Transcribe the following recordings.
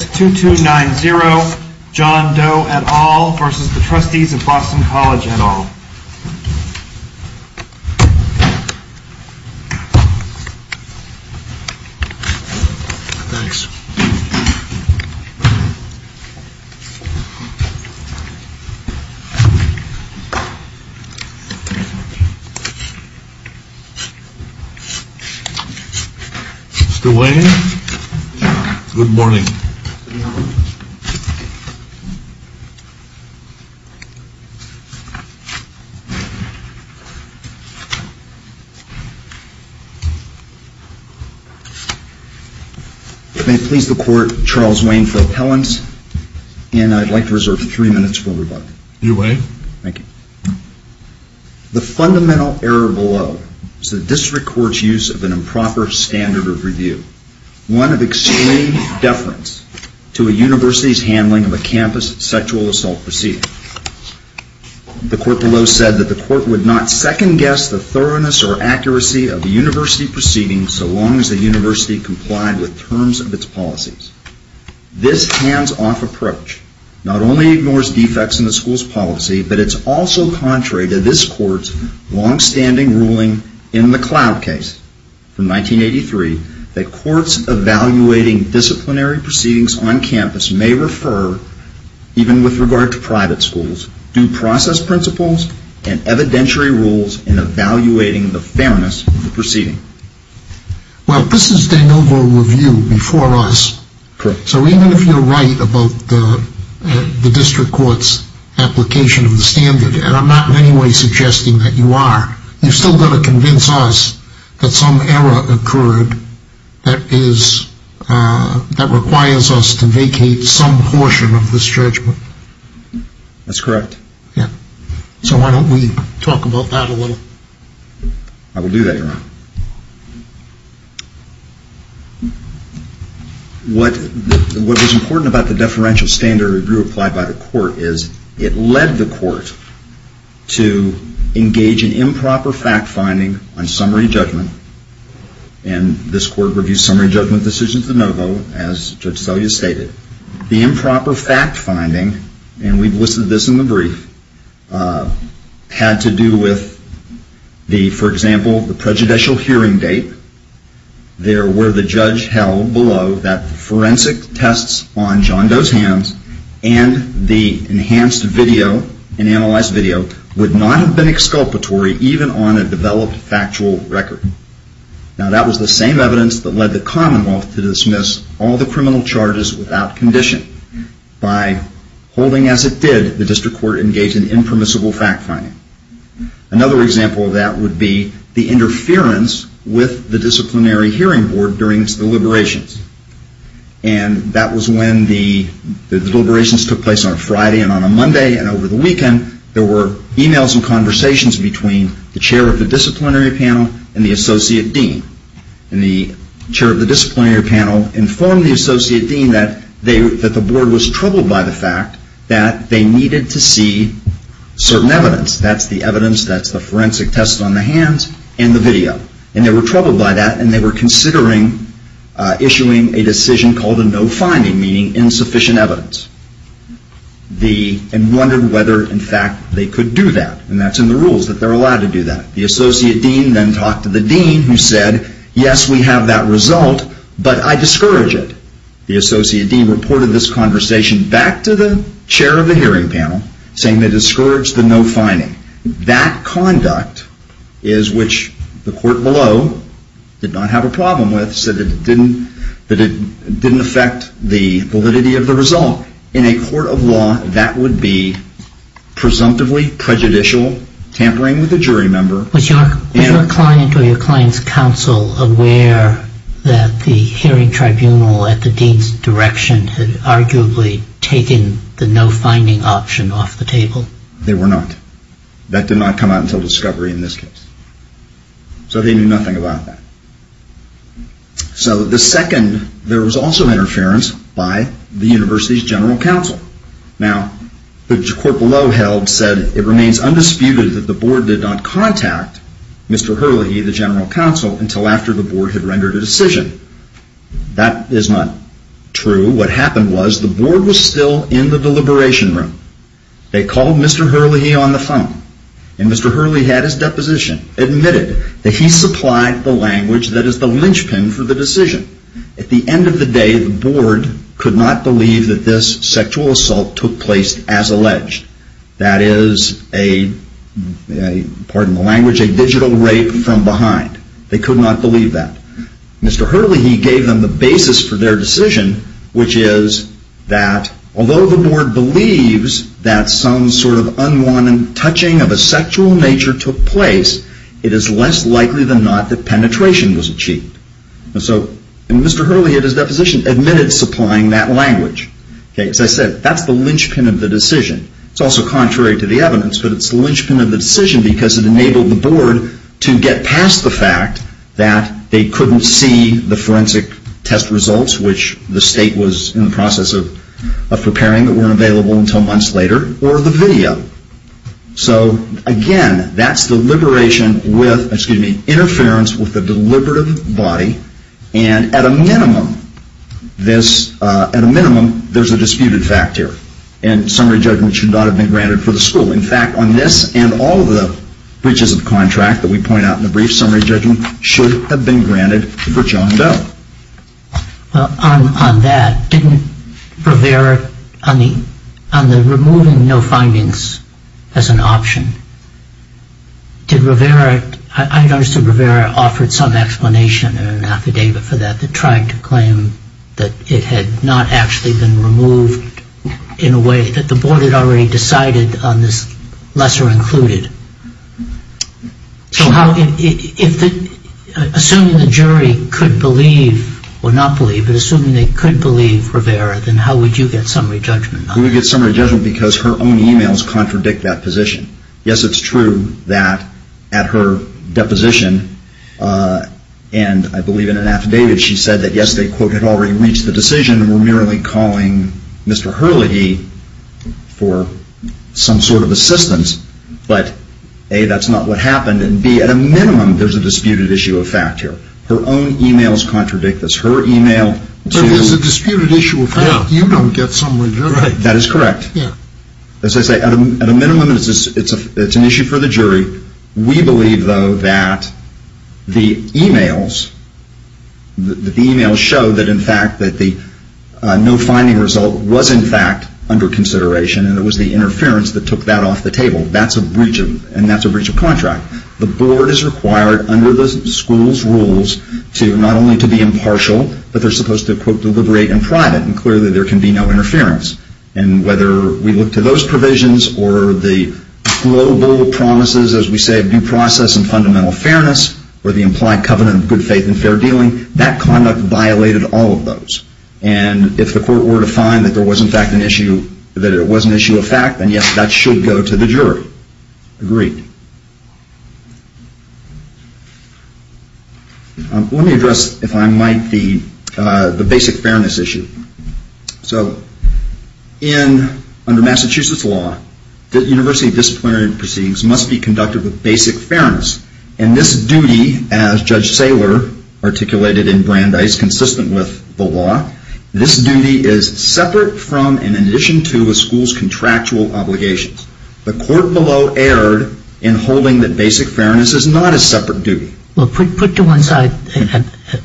2290 John Doe et al. v. Trustees of Boston College et al. Thanks. Good morning. Please the Court, Charles Wayne for appellant. And I'd like to reserve three minutes for rebuttal. You may. Thank you. The fundamental error below is the District Court's use of an improper standard of review, one of extreme deference to a university's handling of a campus sexual assault proceeding. The Court below said that the Court would not second-guess the thoroughness or accuracy of a university proceeding so long as the university complied with terms of its policies. This hands-off approach not only ignores defects in the school's policy, but it's also contrary to this Court's long-standing ruling in the Cloud case from 1983 that courts evaluating disciplinary proceedings on campus may refer, even with regard to private schools, due process principles and evidentiary rules in evaluating the fairness of the proceeding. Well, this is de novo review before us. Correct. So even if you're right about the District Court's application of the standard, and I'm not in any way suggesting that you are, you've still got to convince us that some error occurred that requires us to vacate some portion of this judgment. That's correct. Yeah. So why don't we talk about that a little? I will do that, Your Honor. What was important about the deferential standard of review applied by the Court is it led the Court to engage in improper fact-finding on summary judgment, and this Court reviews summary judgment decisions de novo, as Judge Selya stated. The improper fact-finding, and we've listed this in the brief, had to do with, for example, the prejudicial hearing date. There were the judge held below that forensic tests on John Doe's hands and the enhanced video, an analyzed video, would not have been exculpatory even on a developed factual record. Now that was the same evidence that led the Commonwealth to dismiss all the criminal charges without condition. By holding as it did, the District Court engaged in impermissible fact-finding. Another example of that would be the interference with the Disciplinary Hearing Board during its deliberations. And that was when the deliberations took place on a Friday and on a Monday and over the weekend, there were emails and conversations between the Chair of the Disciplinary Panel and the Associate Dean. And the Chair of the Disciplinary Panel informed the Associate Dean that the Board was troubled by the fact that they needed to see certain evidence. That's the evidence, that's the forensic tests on the hands and the video. And they were troubled by that and they were considering issuing a decision called a no-finding, meaning insufficient evidence, and wondered whether in fact they could do that. And that's in the rules that they're allowed to do that. The Associate Dean then talked to the Dean who said, yes, we have that result, but I discourage it. The Associate Dean reported this conversation back to the Chair of the Hearing Panel saying they discouraged the no-finding. That conduct is which the court below did not have a problem with, that it didn't affect the validity of the result. In a court of law, that would be presumptively prejudicial, tampering with a jury member. Was your client or your client's counsel aware that the hearing tribunal at the Dean's direction had arguably taken the no-finding option off the table? They were not. That did not come out until discovery in this case. So they knew nothing about that. So the second, there was also interference by the University's General Counsel. Now, the court below held, said it remains undisputed that the Board did not contact Mr. Hurley, the General Counsel, until after the Board had rendered a decision. That is not true. What happened was the Board was still in the deliberation room. They called Mr. Hurley on the phone. And Mr. Hurley had his deposition, admitted that he supplied the language that is the linchpin for the decision. At the end of the day, the Board could not believe that this sexual assault took place as alleged. That is a, pardon the language, a digital rape from behind. They could not believe that. Mr. Hurley, he gave them the basis for their decision, which is that although the Board believes that some sort of unwanted touching of a sexual nature took place, it is less likely than not that penetration was achieved. And so Mr. Hurley at his deposition admitted supplying that language. As I said, that is the linchpin of the decision. It is also contrary to the evidence, but it is the linchpin of the decision because it enabled the Board to get past the fact that they could not see the forensic test results, which the State was in the process of preparing that weren't available until months later, or the video. So again, that is the liberation with, excuse me, interference with the deliberative body. And at a minimum, this, at a minimum, there is a disputed fact here. And summary judgment should not have been granted for the school. In fact, on this and all of the breaches of contract that we point out in the brief, summary judgment should have been granted for John Doe. Well, on that, didn't Rivera, on the removing no findings as an option, did Rivera, I understood Rivera offered some explanation in an affidavit for that, that tried to claim that it had not actually been removed in a way that the Board had already decided on this lesser included. Assuming the jury could believe, or not believe, but assuming they could believe Rivera, then how would you get summary judgment? We would get summary judgment because her own emails contradict that position. Yes, it is true that at her deposition, and I believe in an affidavit, she said that yes, they had already reached the decision and were merely calling Mr. Hurley for some sort of assistance. But A, that is not what happened. And B, at a minimum, there is a disputed issue of fact here. Her own emails contradict this. But if there is a disputed issue of fact, you don't get summary judgment. That is correct. As I say, at a minimum, it is an issue for the jury. We believe, though, that the emails show that in fact that the no finding result was in fact under consideration and it was the interference that took that off the table. That is a breach of contract. The Board is required under the school's rules to not only to be impartial, but they are supposed to, quote, deliberate in private. And clearly there can be no interference. And whether we look to those provisions or the global promises, as we say, of due process and fundamental fairness, or the implied covenant of good faith and fair dealing, that conduct violated all of those. And if the court were to find that there was in fact an issue, that it was an issue of fact, then yes, that should go to the jury. Agreed. Let me address, if I might, the basic fairness issue. So under Massachusetts law, the university disciplinary proceedings must be conducted with basic fairness. And this duty, as Judge Saylor articulated in Brandeis, consistent with the law, this duty is separate from and in addition to a school's contractual obligations. The court below erred in holding that basic fairness is not a separate duty. Well, put to one side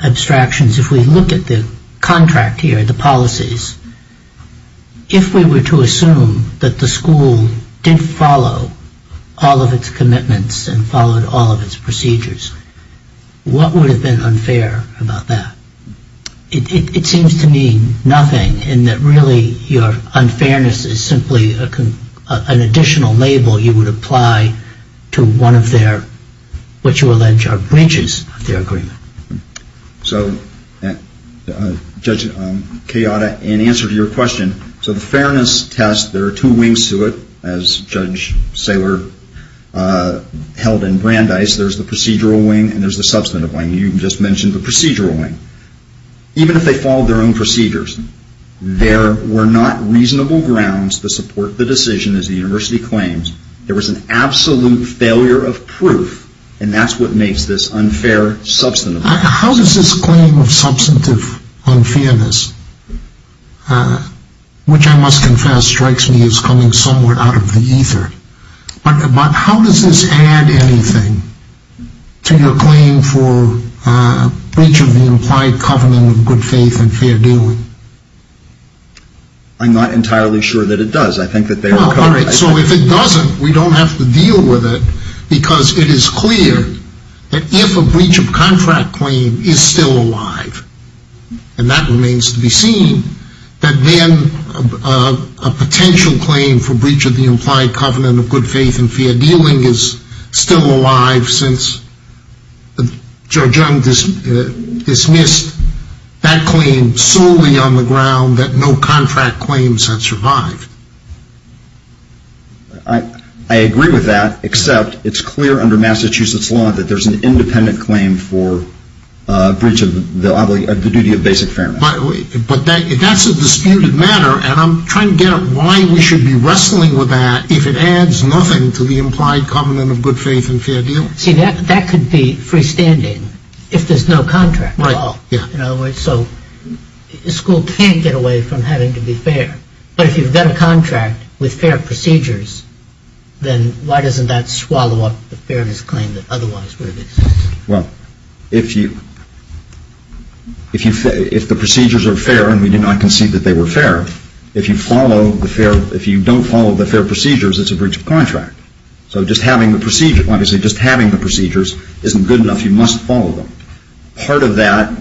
abstractions. If we look at the contract here, the policies, if we were to assume that the school did follow all of its commitments and followed all of its procedures, what would have been unfair about that? It seems to me nothing in that really your unfairness is simply an additional label you would apply to one of their, what you allege, are branches of their agreement. So, Judge Kayada, in answer to your question, so the fairness test, there are two wings to it, as Judge Saylor held in Brandeis. There's the procedural wing and there's the substantive wing. You just mentioned the procedural wing. Even if they followed their own procedures, there were not reasonable grounds to support the decision, as the university claims. There was an absolute failure of proof, and that's what makes this unfair, substantive. How does this claim of substantive unfairness, which I must confess strikes me as coming somewhere out of the ether, but how does this add anything to your claim for breach of the implied covenant of good faith and fair dealing? I'm not entirely sure that it does. So if it doesn't, we don't have to deal with it, because it is clear that if a breach of contract claim is still alive, and that remains to be seen, that then a potential claim for breach of the implied covenant of good faith and fair dealing is still alive, since Joe Jung dismissed that claim solely on the ground that no contract claims have survived. I agree with that, except it's clear under Massachusetts law that there's an independent claim for breach of the duty of basic fairness. But that's a disputed matter, and I'm trying to get at why we should be wrestling with that, if it adds nothing to the implied covenant of good faith and fair dealing. See, that could be freestanding, if there's no contract at all. So a school can't get away from having to be fair. But if you've got a contract with fair procedures, then why doesn't that swallow up the fairness claim that otherwise would exist? Well, if the procedures are fair, and we did not concede that they were fair, if you don't follow the fair procedures, it's a breach of contract. So just having the procedures isn't good enough. You must follow them. Part of that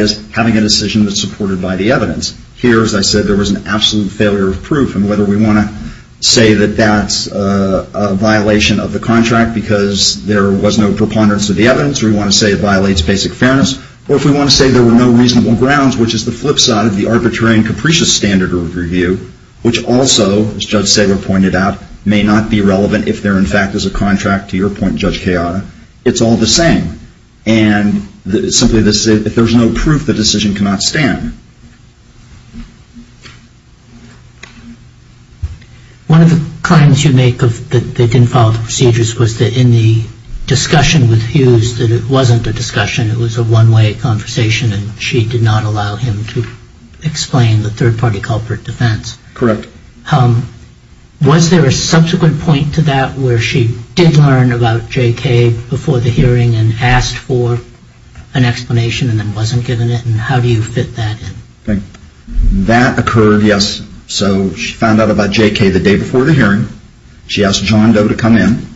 is having a decision that's supported by the evidence. Here, as I said, there was an absolute failure of proof. And whether we want to say that that's a violation of the contract because there was no preponderance of the evidence, or we want to say it violates basic fairness, or if we want to say there were no reasonable grounds, which is the flip side of the arbitrary and capricious standard of review, which also, as Judge Saylor pointed out, may not be relevant if there, in fact, is a contract, to your point, Judge Kayada, it's all the same. And simply, if there's no proof, the decision cannot stand. One of the claims you make that they didn't follow the procedures was that in the discussion with Hughes, that it wasn't a discussion, it was a one-way conversation, and she did not allow him to explain the third-party culprit defense. Correct. Was there a subsequent point to that where she did learn about J.K. before the hearing and asked for an explanation and then wasn't given it? And how do you fit that in? That occurred, yes. So she found out about J.K. the day before the hearing. She asked John Doe to come in.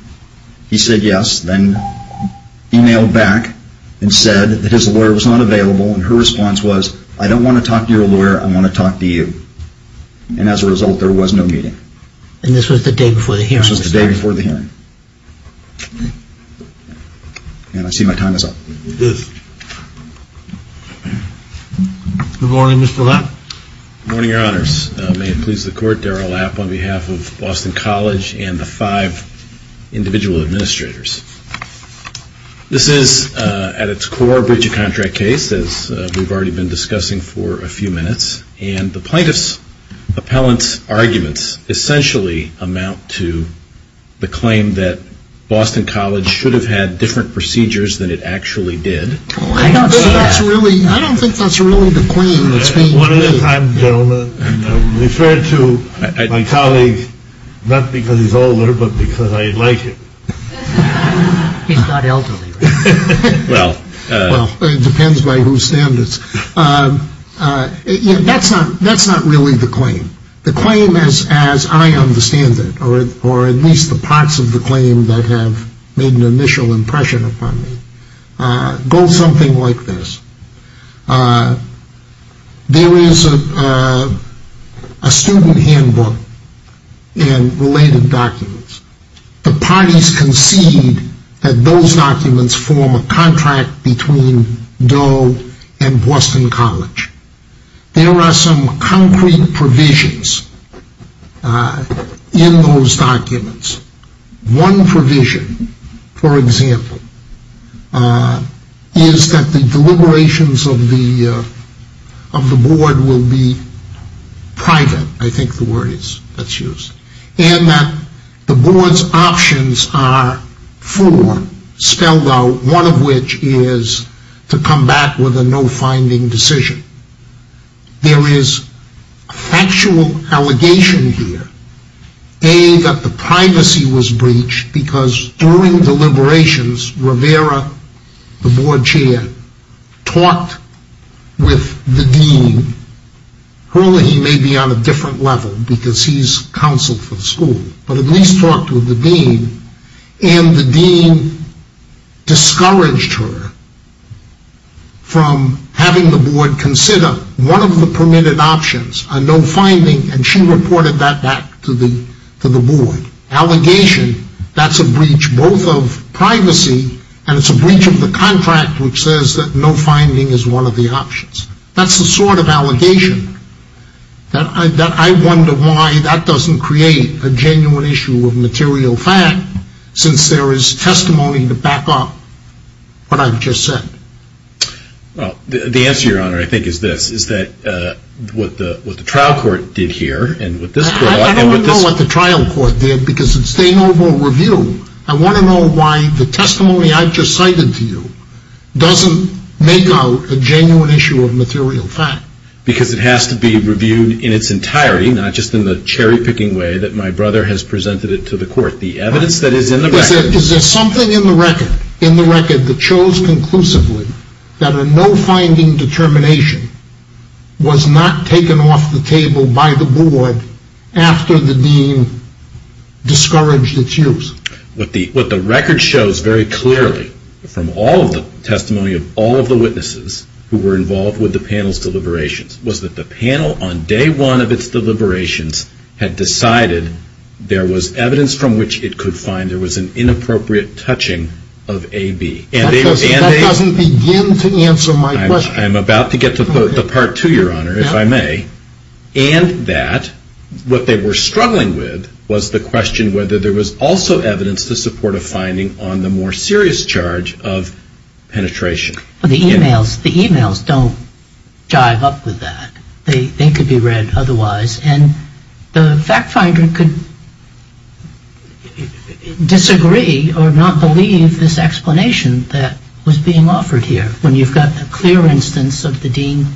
He said yes, then emailed back and said that his lawyer was not available. And her response was, I don't want to talk to your lawyer. I want to talk to you. And as a result, there was no meeting. And this was the day before the hearing? This was the day before the hearing. And I see my time is up. It is. Good morning, Mr. Lapp. Good morning, Your Honors. May it please the Court, Darrell Lapp on behalf of Boston College and the five individual administrators. This is, at its core, a breach of contract case, as we've already been discussing for a few minutes. And the plaintiff's appellant's arguments essentially amount to the claim that Boston College should have had different procedures than it actually did. I don't think that's really the claim that's being made. One of the times, gentlemen, I've referred to my colleague not because he's older but because I like him. He's not elderly. Well, it depends by whose standards. That's not really the claim. The claim, as I understand it, or at least the parts of the claim that have made an initial impression upon me, goes something like this. There is a student handbook and related documents. The parties concede that those documents form a contract between Doe and Boston College. There are some concrete provisions in those documents. One provision, for example, is that the deliberations of the board will be private. I think the word is that's used. And that the board's options are four spelled out, one of which is to come back with a no-finding decision. There is a factual allegation here, A, that the privacy was breached because during deliberations, Rivera, the board chair, talked with the dean. Hurley may be on a different level because he's counsel for the school, but at least talked with the dean. And the dean discouraged her from having the board consider one of the permitted options, a no-finding, and she reported that back to the board. Allegation, that's a breach both of privacy and it's a breach of the contract which says that no-finding is one of the options. That's the sort of allegation that I wonder why that doesn't create a genuine issue of material fact since there is testimony to back up what I've just said. Well, the answer, Your Honor, I think is this, is that what the trial court did here and what this court and what this court. I don't want to know what the trial court did because it's staying over a review. I want to know why the testimony I've just cited to you doesn't make out a genuine issue of material fact. Because it has to be reviewed in its entirety, not just in the cherry-picking way that my brother has presented it to the court. The evidence that is in the record. Is there something in the record that shows conclusively that a no-finding determination was not taken off the table by the board after the dean discouraged its use? What the record shows very clearly from all of the testimony of all of the witnesses who were involved with the panel's deliberations was that the panel on day one of its deliberations had decided there was evidence from which it could find there was an inappropriate touching of AB. That doesn't begin to answer my question. I'm about to get to part two, Your Honor, if I may. And that what they were struggling with was the question whether there was also evidence to support a finding on the more serious charge of penetration. The emails don't jive up with that. They could be read otherwise. And the fact finder could disagree or not believe this explanation that was being offered here. When you've got a clear instance of the dean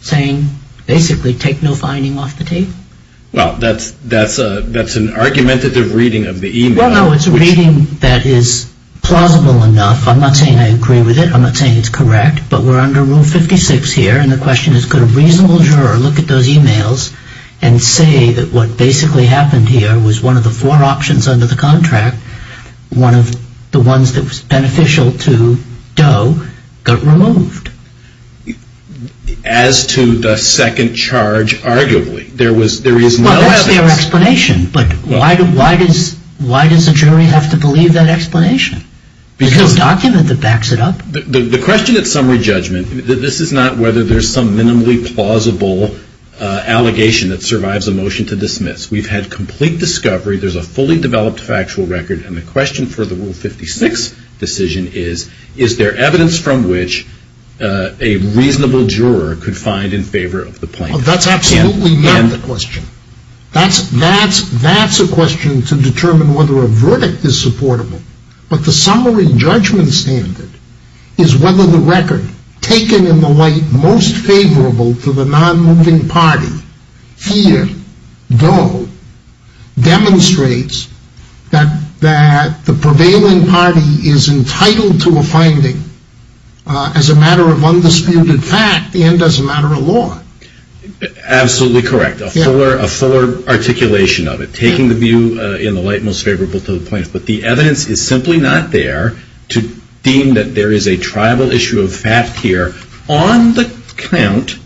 saying basically take no finding off the table? Well, that's an argumentative reading of the email. Well, no, it's a reading that is plausible enough. I'm not saying I agree with it. I'm not saying it's correct. But we're under Rule 56 here, and the question is could a reasonable juror look at those emails and say that what basically happened here was one of the four options under the contract, one of the ones that was beneficial to Doe got removed? As to the second charge, arguably, there is no evidence. Well, that's their explanation. But why does a jury have to believe that explanation? There's no document that backs it up. The question at summary judgment, this is not whether there's some minimally plausible allegation that survives a motion to dismiss. We've had complete discovery. There's a fully developed factual record, and the question for the Rule 56 decision is, is there evidence from which a reasonable juror could find in favor of the plaintiff? That's absolutely not the question. That's a question to determine whether a verdict is supportable. But the summary judgment standard is whether the record taken in the light most favorable to the non-moving party, here, Doe, demonstrates that the prevailing party is entitled to a finding as a matter of undisputed fact and as a matter of law. Absolutely correct. A fuller articulation of it, taking the view in the light most favorable to the plaintiff. But the evidence is simply not there to deem that there is a tribal issue of fact here. On the count,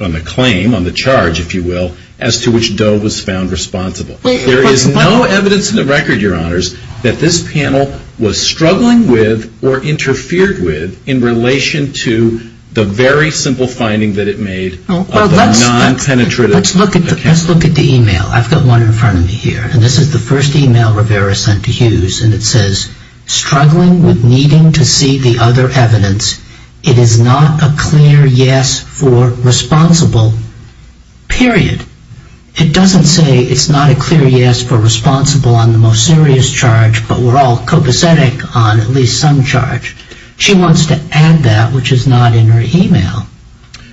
on the claim, on the charge, if you will, as to which Doe was found responsible, there is no evidence in the record, Your Honors, that this panel was struggling with or interfered with in relation to the very simple finding that it made of the non-penetrative account. Let's look at the email. I've got one in front of me here. And this is the first email Rivera sent to Hughes, and it says, struggling with needing to see the other evidence. It is not a clear yes for responsible, period. It doesn't say it's not a clear yes for responsible on the most serious charge, but we're all copacetic on at least some charge. She wants to add that, which is not in her email.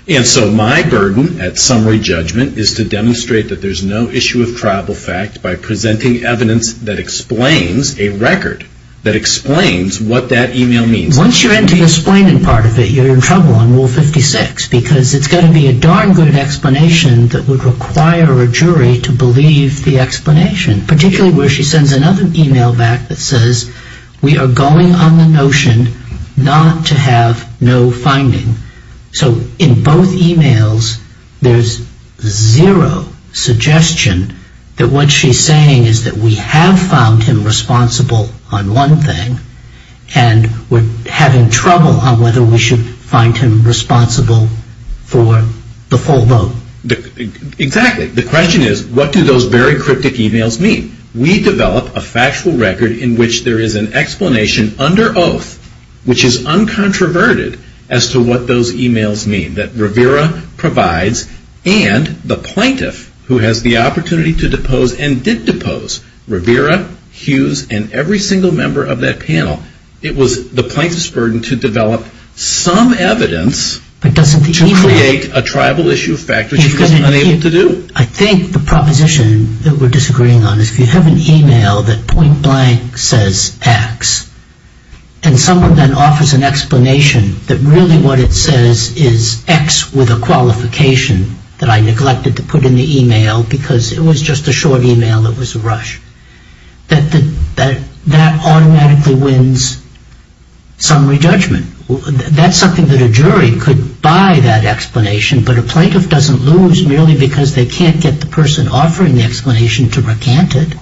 And so my burden at summary judgment is to demonstrate that there's no issue of tribal fact by presenting evidence that explains a record, that explains what that email means. Once you're into the explaining part of it, you're in trouble on Rule 56, because it's going to be a darn good explanation that would require a jury to believe the explanation, particularly where she sends another email back that says, we are going on the notion not to have no finding. So in both emails, there's zero suggestion that what she's saying is that we have found him responsible on one thing, and we're having trouble on whether we should find him responsible for the full vote. Exactly. The question is, what do those very cryptic emails mean? We develop a factual record in which there is an explanation under oath, which is uncontroverted as to what those emails mean that Rivera provides, and the plaintiff who has the opportunity to depose and did depose Rivera, Hughes, and every single member of that panel. It was the plaintiff's burden to develop some evidence to create a tribal issue of fact, which she was unable to do. I think the proposition that we're disagreeing on is if you have an email that point blank says X, and someone then offers an explanation that really what it says is X with a qualification that I neglected to put in the email because it was just a short email, it was a rush, that that automatically wins summary judgment. That's something that a jury could buy that explanation, but a plaintiff doesn't lose merely because they can't get the person offering the explanation to recant it.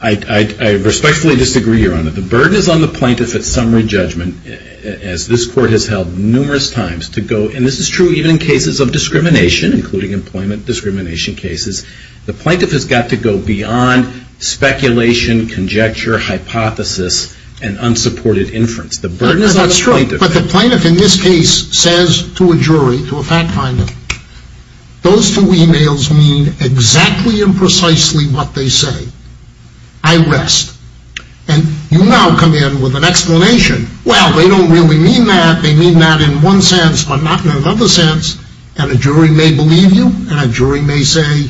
I respectfully disagree, Your Honor. The burden is on the plaintiff at summary judgment, as this court has held numerous times to go, and this is true even in cases of discrimination, including employment discrimination cases. The plaintiff has got to go beyond speculation, conjecture, hypothesis, and unsupported inference. The burden is on the plaintiff. But the plaintiff in this case says to a jury, to a fact finder, those two emails mean exactly and precisely what they say. I rest. And you now come in with an explanation. Well, they don't really mean that. They mean that in one sense, but not in another sense. And a jury may believe you, and a jury may say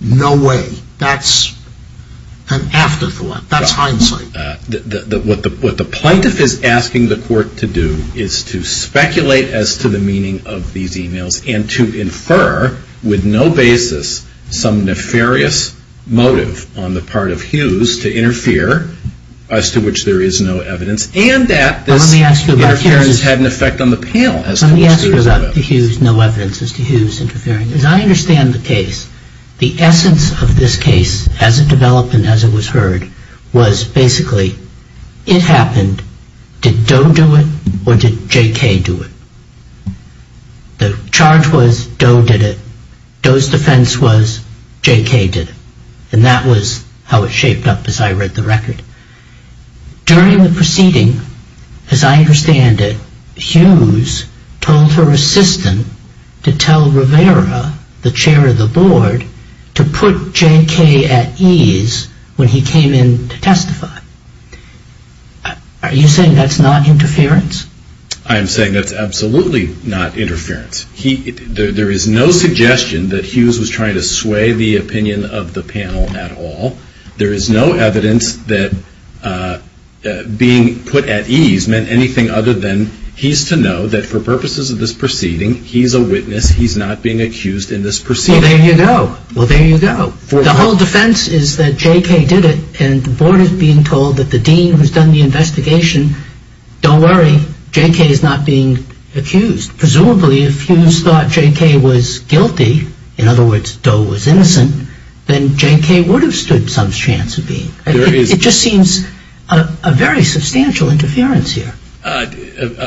no way. That's an afterthought. That's hindsight. What the plaintiff is asking the court to do is to speculate as to the meaning of these emails and to infer with no basis some nefarious motive on the part of Hughes to interfere, as to which there is no evidence, and that this interference has had an effect on the panel. Let me ask you about the Hughes no evidence, as to Hughes interfering. As I understand the case, the essence of this case, as it developed and as it was heard, was basically it happened, did Doe do it or did J.K. do it? The charge was Doe did it. Doe's defense was J.K. did it. And that was how it shaped up as I read the record. During the proceeding, as I understand it, Hughes told her assistant to tell Rivera, the chair of the board, to put J.K. at ease when he came in to testify. Are you saying that's not interference? I am saying that's absolutely not interference. There is no suggestion that Hughes was trying to sway the opinion of the panel at all. There is no evidence that being put at ease meant anything other than he's to know that, for purposes of this proceeding, he's a witness. He's not being accused in this proceeding. Well, there you go. Well, there you go. The whole defense is that J.K. did it, and the board is being told that the dean who's done the investigation, don't worry, J.K. is not being accused. Presumably, if Hughes thought J.K. was guilty, in other words, Doe was innocent, then J.K. would have stood some chance of being. It just seems a very substantial interference here.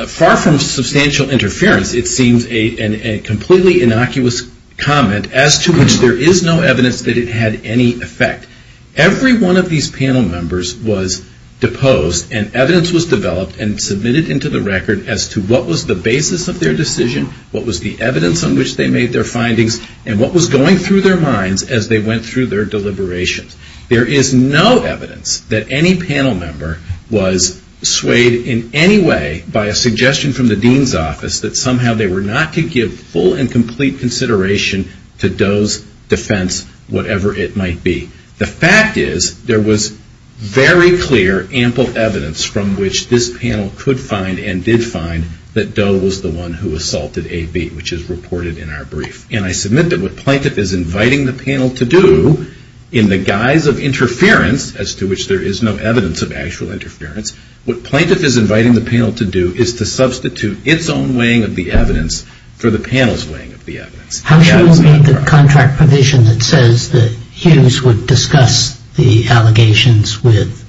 Far from substantial interference, it seems a completely innocuous comment as to which there is no evidence that it had any effect. Every one of these panel members was deposed, and evidence was developed and submitted into the record as to what was the basis of their decision, what was the evidence on which they made their findings, and what was going through their minds as they went through their deliberations. There is no evidence that any panel member was swayed in any way by a suggestion from the dean's office that somehow they were not to give full and complete consideration to Doe's defense, whatever it might be. The fact is, there was very clear, ample evidence from which this panel could find and did find that Doe was the one who assaulted A.B., which is reported in our brief. And I submit that what Plaintiff is inviting the panel to do, in the guise of interference, as to which there is no evidence of actual interference, what Plaintiff is inviting the panel to do is to substitute its own weighing of the evidence for the panel's weighing of the evidence. How shall we meet the contract provision that says that Hughes would discuss the allegations with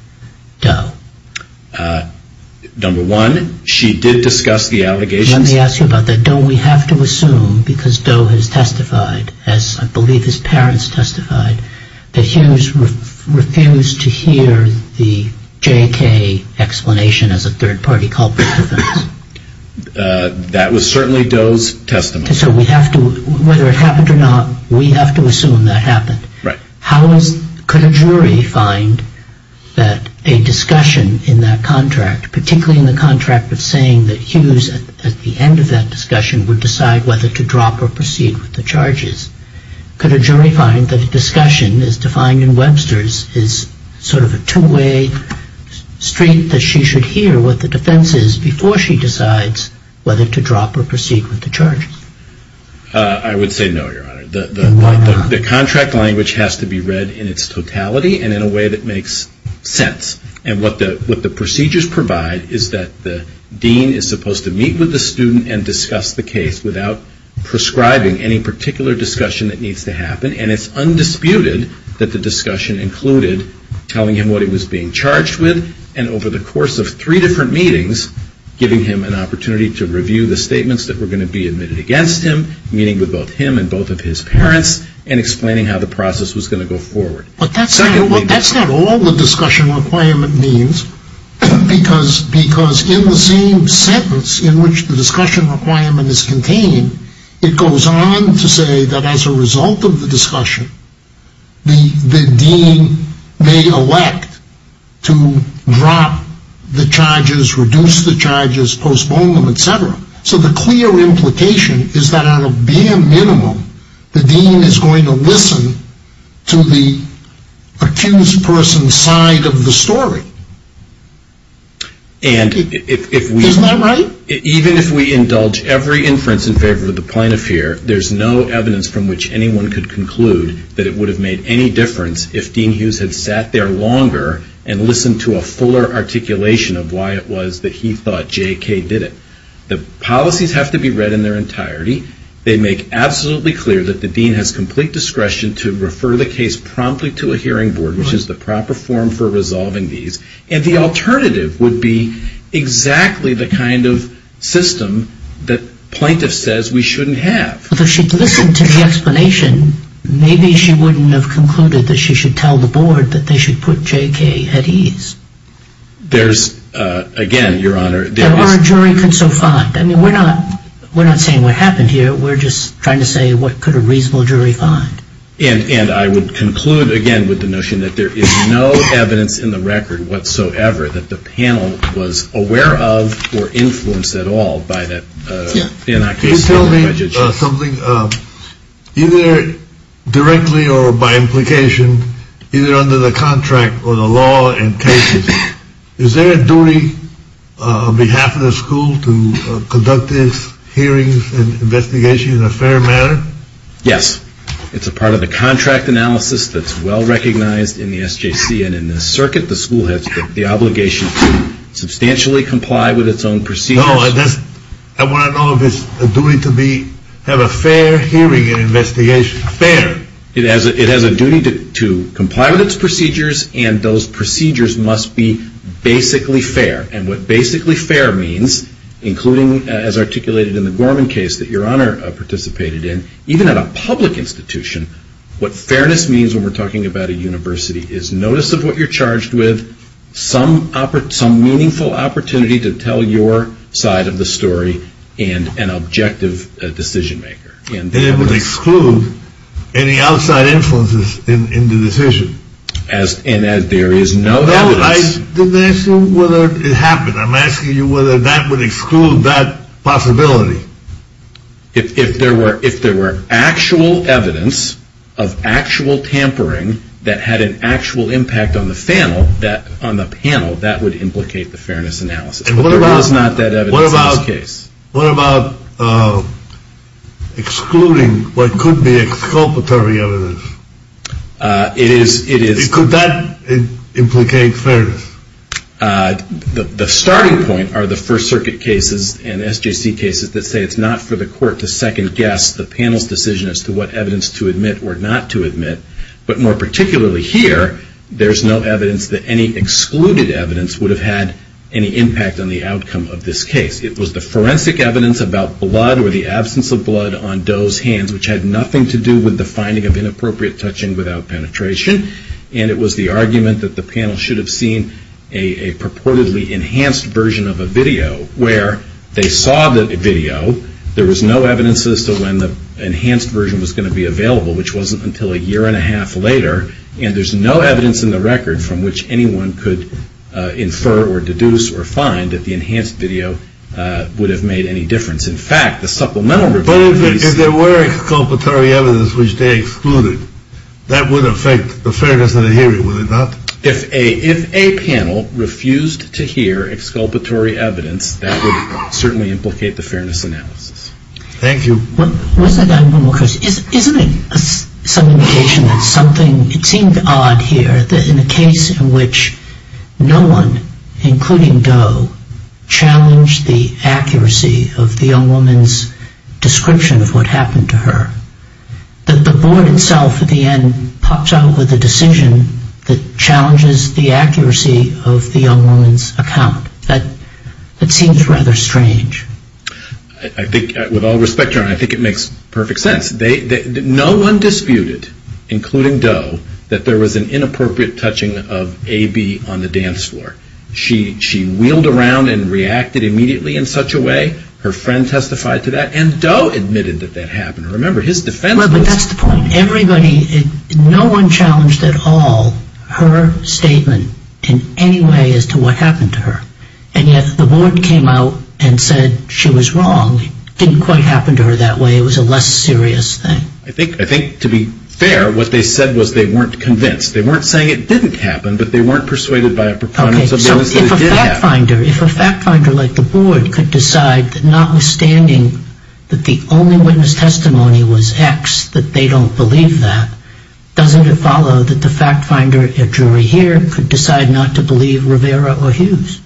Doe? Number one, she did discuss the allegations. Let me ask you about that. Don't we have to assume, because Doe has testified, as I believe his parents testified, that Hughes refused to hear the J.K. explanation as a third party culprit? That was certainly Doe's testimony. So whether it happened or not, we have to assume that happened. Right. Could a jury find that a discussion in that contract, particularly in the contract of saying that Hughes, at the end of that discussion, would decide whether to drop or proceed with the charges, could a jury find that a discussion as defined in Webster's is sort of a two-way street that she should hear what the defense is before she decides whether to drop or proceed with the charges? I would say no, Your Honor. Why not? The contract language has to be read in its totality and in a way that makes sense. And what the procedures provide is that the dean is supposed to meet with the student and discuss the case without prescribing any particular discussion that needs to happen. And it's undisputed that the discussion included telling him what he was being charged with and over the course of three different meetings, giving him an opportunity to review the statements that were going to be admitted against him, meeting with both him and both of his parents, and explaining how the process was going to go forward. But that's not all the discussion requirement means, because in the same sentence in which the discussion requirement is contained, it goes on to say that as a result of the discussion, the dean may elect to drop the charges, reduce the charges, postpone them, etc. So the clear implication is that on a bare minimum, the dean is going to listen to the accused person's side of the story. Isn't that right? Even if we indulge every inference in favor of the plaintiff here, there's no evidence from which anyone could conclude that it would have made any difference if Dean Hughes had sat there longer and listened to a fuller articulation of why it was that he thought J.K. did it. The policies have to be read in their entirety. They make absolutely clear that the dean has complete discretion to refer the case promptly to a hearing board, which is the proper form for resolving these. And the alternative would be exactly the kind of system that plaintiff says we shouldn't have. But if she'd listened to the explanation, maybe she wouldn't have concluded that she should tell the board that they should put J.K. at ease. There's, again, Your Honor, there is... That our jury could so find. I mean, we're not saying what happened here. We're just trying to say what could a reasonable jury find. And I would conclude, again, with the notion that there is no evidence in the record whatsoever that the panel was aware of or influenced at all by that case. Can you tell me something? Either directly or by implication, either under the contract or the law in cases, is there a duty on behalf of the school to conduct these hearings and investigations in a fair manner? Yes. It's a part of the contract analysis that's well recognized in the SJC and in the circuit. The school has the obligation to substantially comply with its own procedures. No, I want to know if it's a duty to have a fair hearing and investigation. Fair. It has a duty to comply with its procedures, and those procedures must be basically fair. And what basically fair means, including as articulated in the Gorman case that Your Honor participated in, even at a public institution, what fairness means when we're talking about a university is notice of what you're charged with, some meaningful opportunity to tell your side of the story, and an objective decision maker. And it would exclude any outside influences in the decision. And there is no evidence. I didn't ask you whether it happened. I'm asking you whether that would exclude that possibility. If there were actual evidence of actual tampering that had an actual impact on the panel, that would implicate the fairness analysis. But there is not that evidence in this case. What about excluding what could be exculpatory evidence? Could that implicate fairness? The starting point are the First Circuit cases and SJC cases that say it's not for the court to second-guess the panel's decision as to what evidence to admit or not to admit. But more particularly here, there's no evidence that any excluded evidence would have had any impact on the outcome of this case. It was the forensic evidence about blood or the absence of blood on Doe's hands, which had nothing to do with the finding of inappropriate touching without penetration. And it was the argument that the panel should have seen a purportedly enhanced version of a video where they saw the video. There was no evidence as to when the enhanced version was going to be available, which wasn't until a year and a half later. And there's no evidence in the record from which anyone could infer or deduce or find that the enhanced video would have made any difference. But if there were exculpatory evidence which they excluded, that would affect the fairness of the hearing, would it not? If a panel refused to hear exculpatory evidence, that would certainly implicate the fairness analysis. Thank you. Isn't it some indication that something, it seemed odd here, that in a case in which no one, including Doe, challenged the accuracy of the young woman's description of what happened to her, that the board itself at the end pops out with a decision that challenges the accuracy of the young woman's account? That seems rather strange. I think, with all respect, John, I think it makes perfect sense. No one disputed, including Doe, that there was an inappropriate touching of A.B. on the dance floor. She wheeled around and reacted immediately in such a way. Her friend testified to that, and Doe admitted that that happened. Remember, his defense was- Well, but that's the point. Everybody, no one challenged at all her statement in any way as to what happened to her. And yet the board came out and said she was wrong. It didn't quite happen to her that way. It was a less serious thing. I think, to be fair, what they said was they weren't convinced. They weren't saying it didn't happen, but they weren't persuaded by a preponderance of evidence that it did happen. Okay, so if a fact finder like the board could decide that notwithstanding that the only witness testimony was X, that they don't believe that, doesn't it follow that the fact finder at jury here could decide not to believe Rivera or Hughes?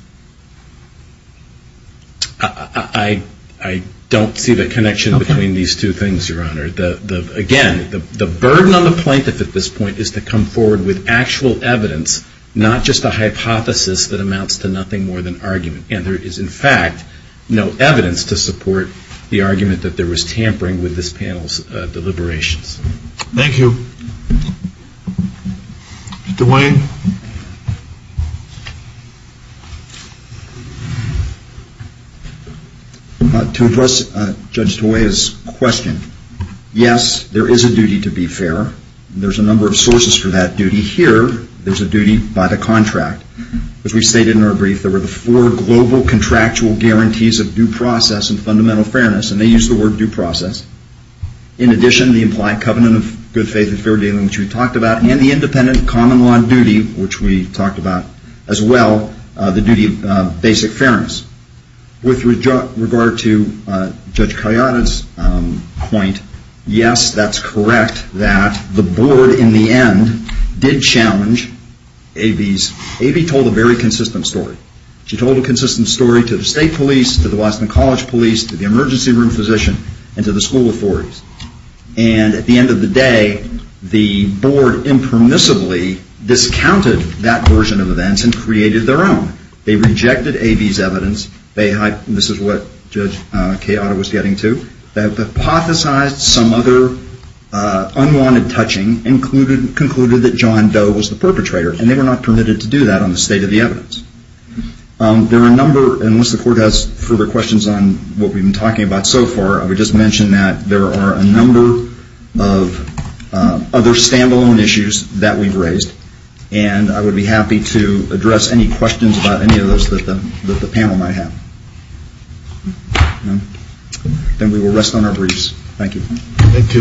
I don't see the connection between these two things, Your Honor. Again, the burden on the plaintiff at this point is to come forward with actual evidence, not just a hypothesis that amounts to nothing more than argument. And there is, in fact, no evidence to support the argument that there was tampering with this panel's deliberations. Thank you. Judge DeWayne. To address Judge DeWayne's question, yes, there is a duty to be fair. There's a number of sources for that duty. Here, there's a duty by the contract. As we stated in our brief, there were the four global contractual guarantees of due process and fundamental fairness, and they use the word due process. In addition, the implied covenant of good faith and fair dealing, which we talked about, and the independent common law duty, which we talked about as well, the duty of basic fairness. With regard to Judge Kayada's point, yes, that's correct that the board in the end did challenge A.B.'s. A.B. told a very consistent story. She told a consistent story to the state police, to the Boston College police, to the emergency room physician, and to the school authorities. And at the end of the day, the board impermissibly discounted that version of events and created their own. They rejected A.B.'s evidence. This is what Judge Kayada was getting to. They hypothesized some other unwanted touching, concluded that John Doe was the perpetrator, and they were not permitted to do that on the state of the evidence. There are a number, unless the court has further questions on what we've been talking about so far, I would just mention that there are a number of other stand-alone issues that we've raised, and I would be happy to address any questions about any of those that the panel might have. Then we will rest on our briefs. Thank you. Thank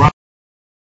you.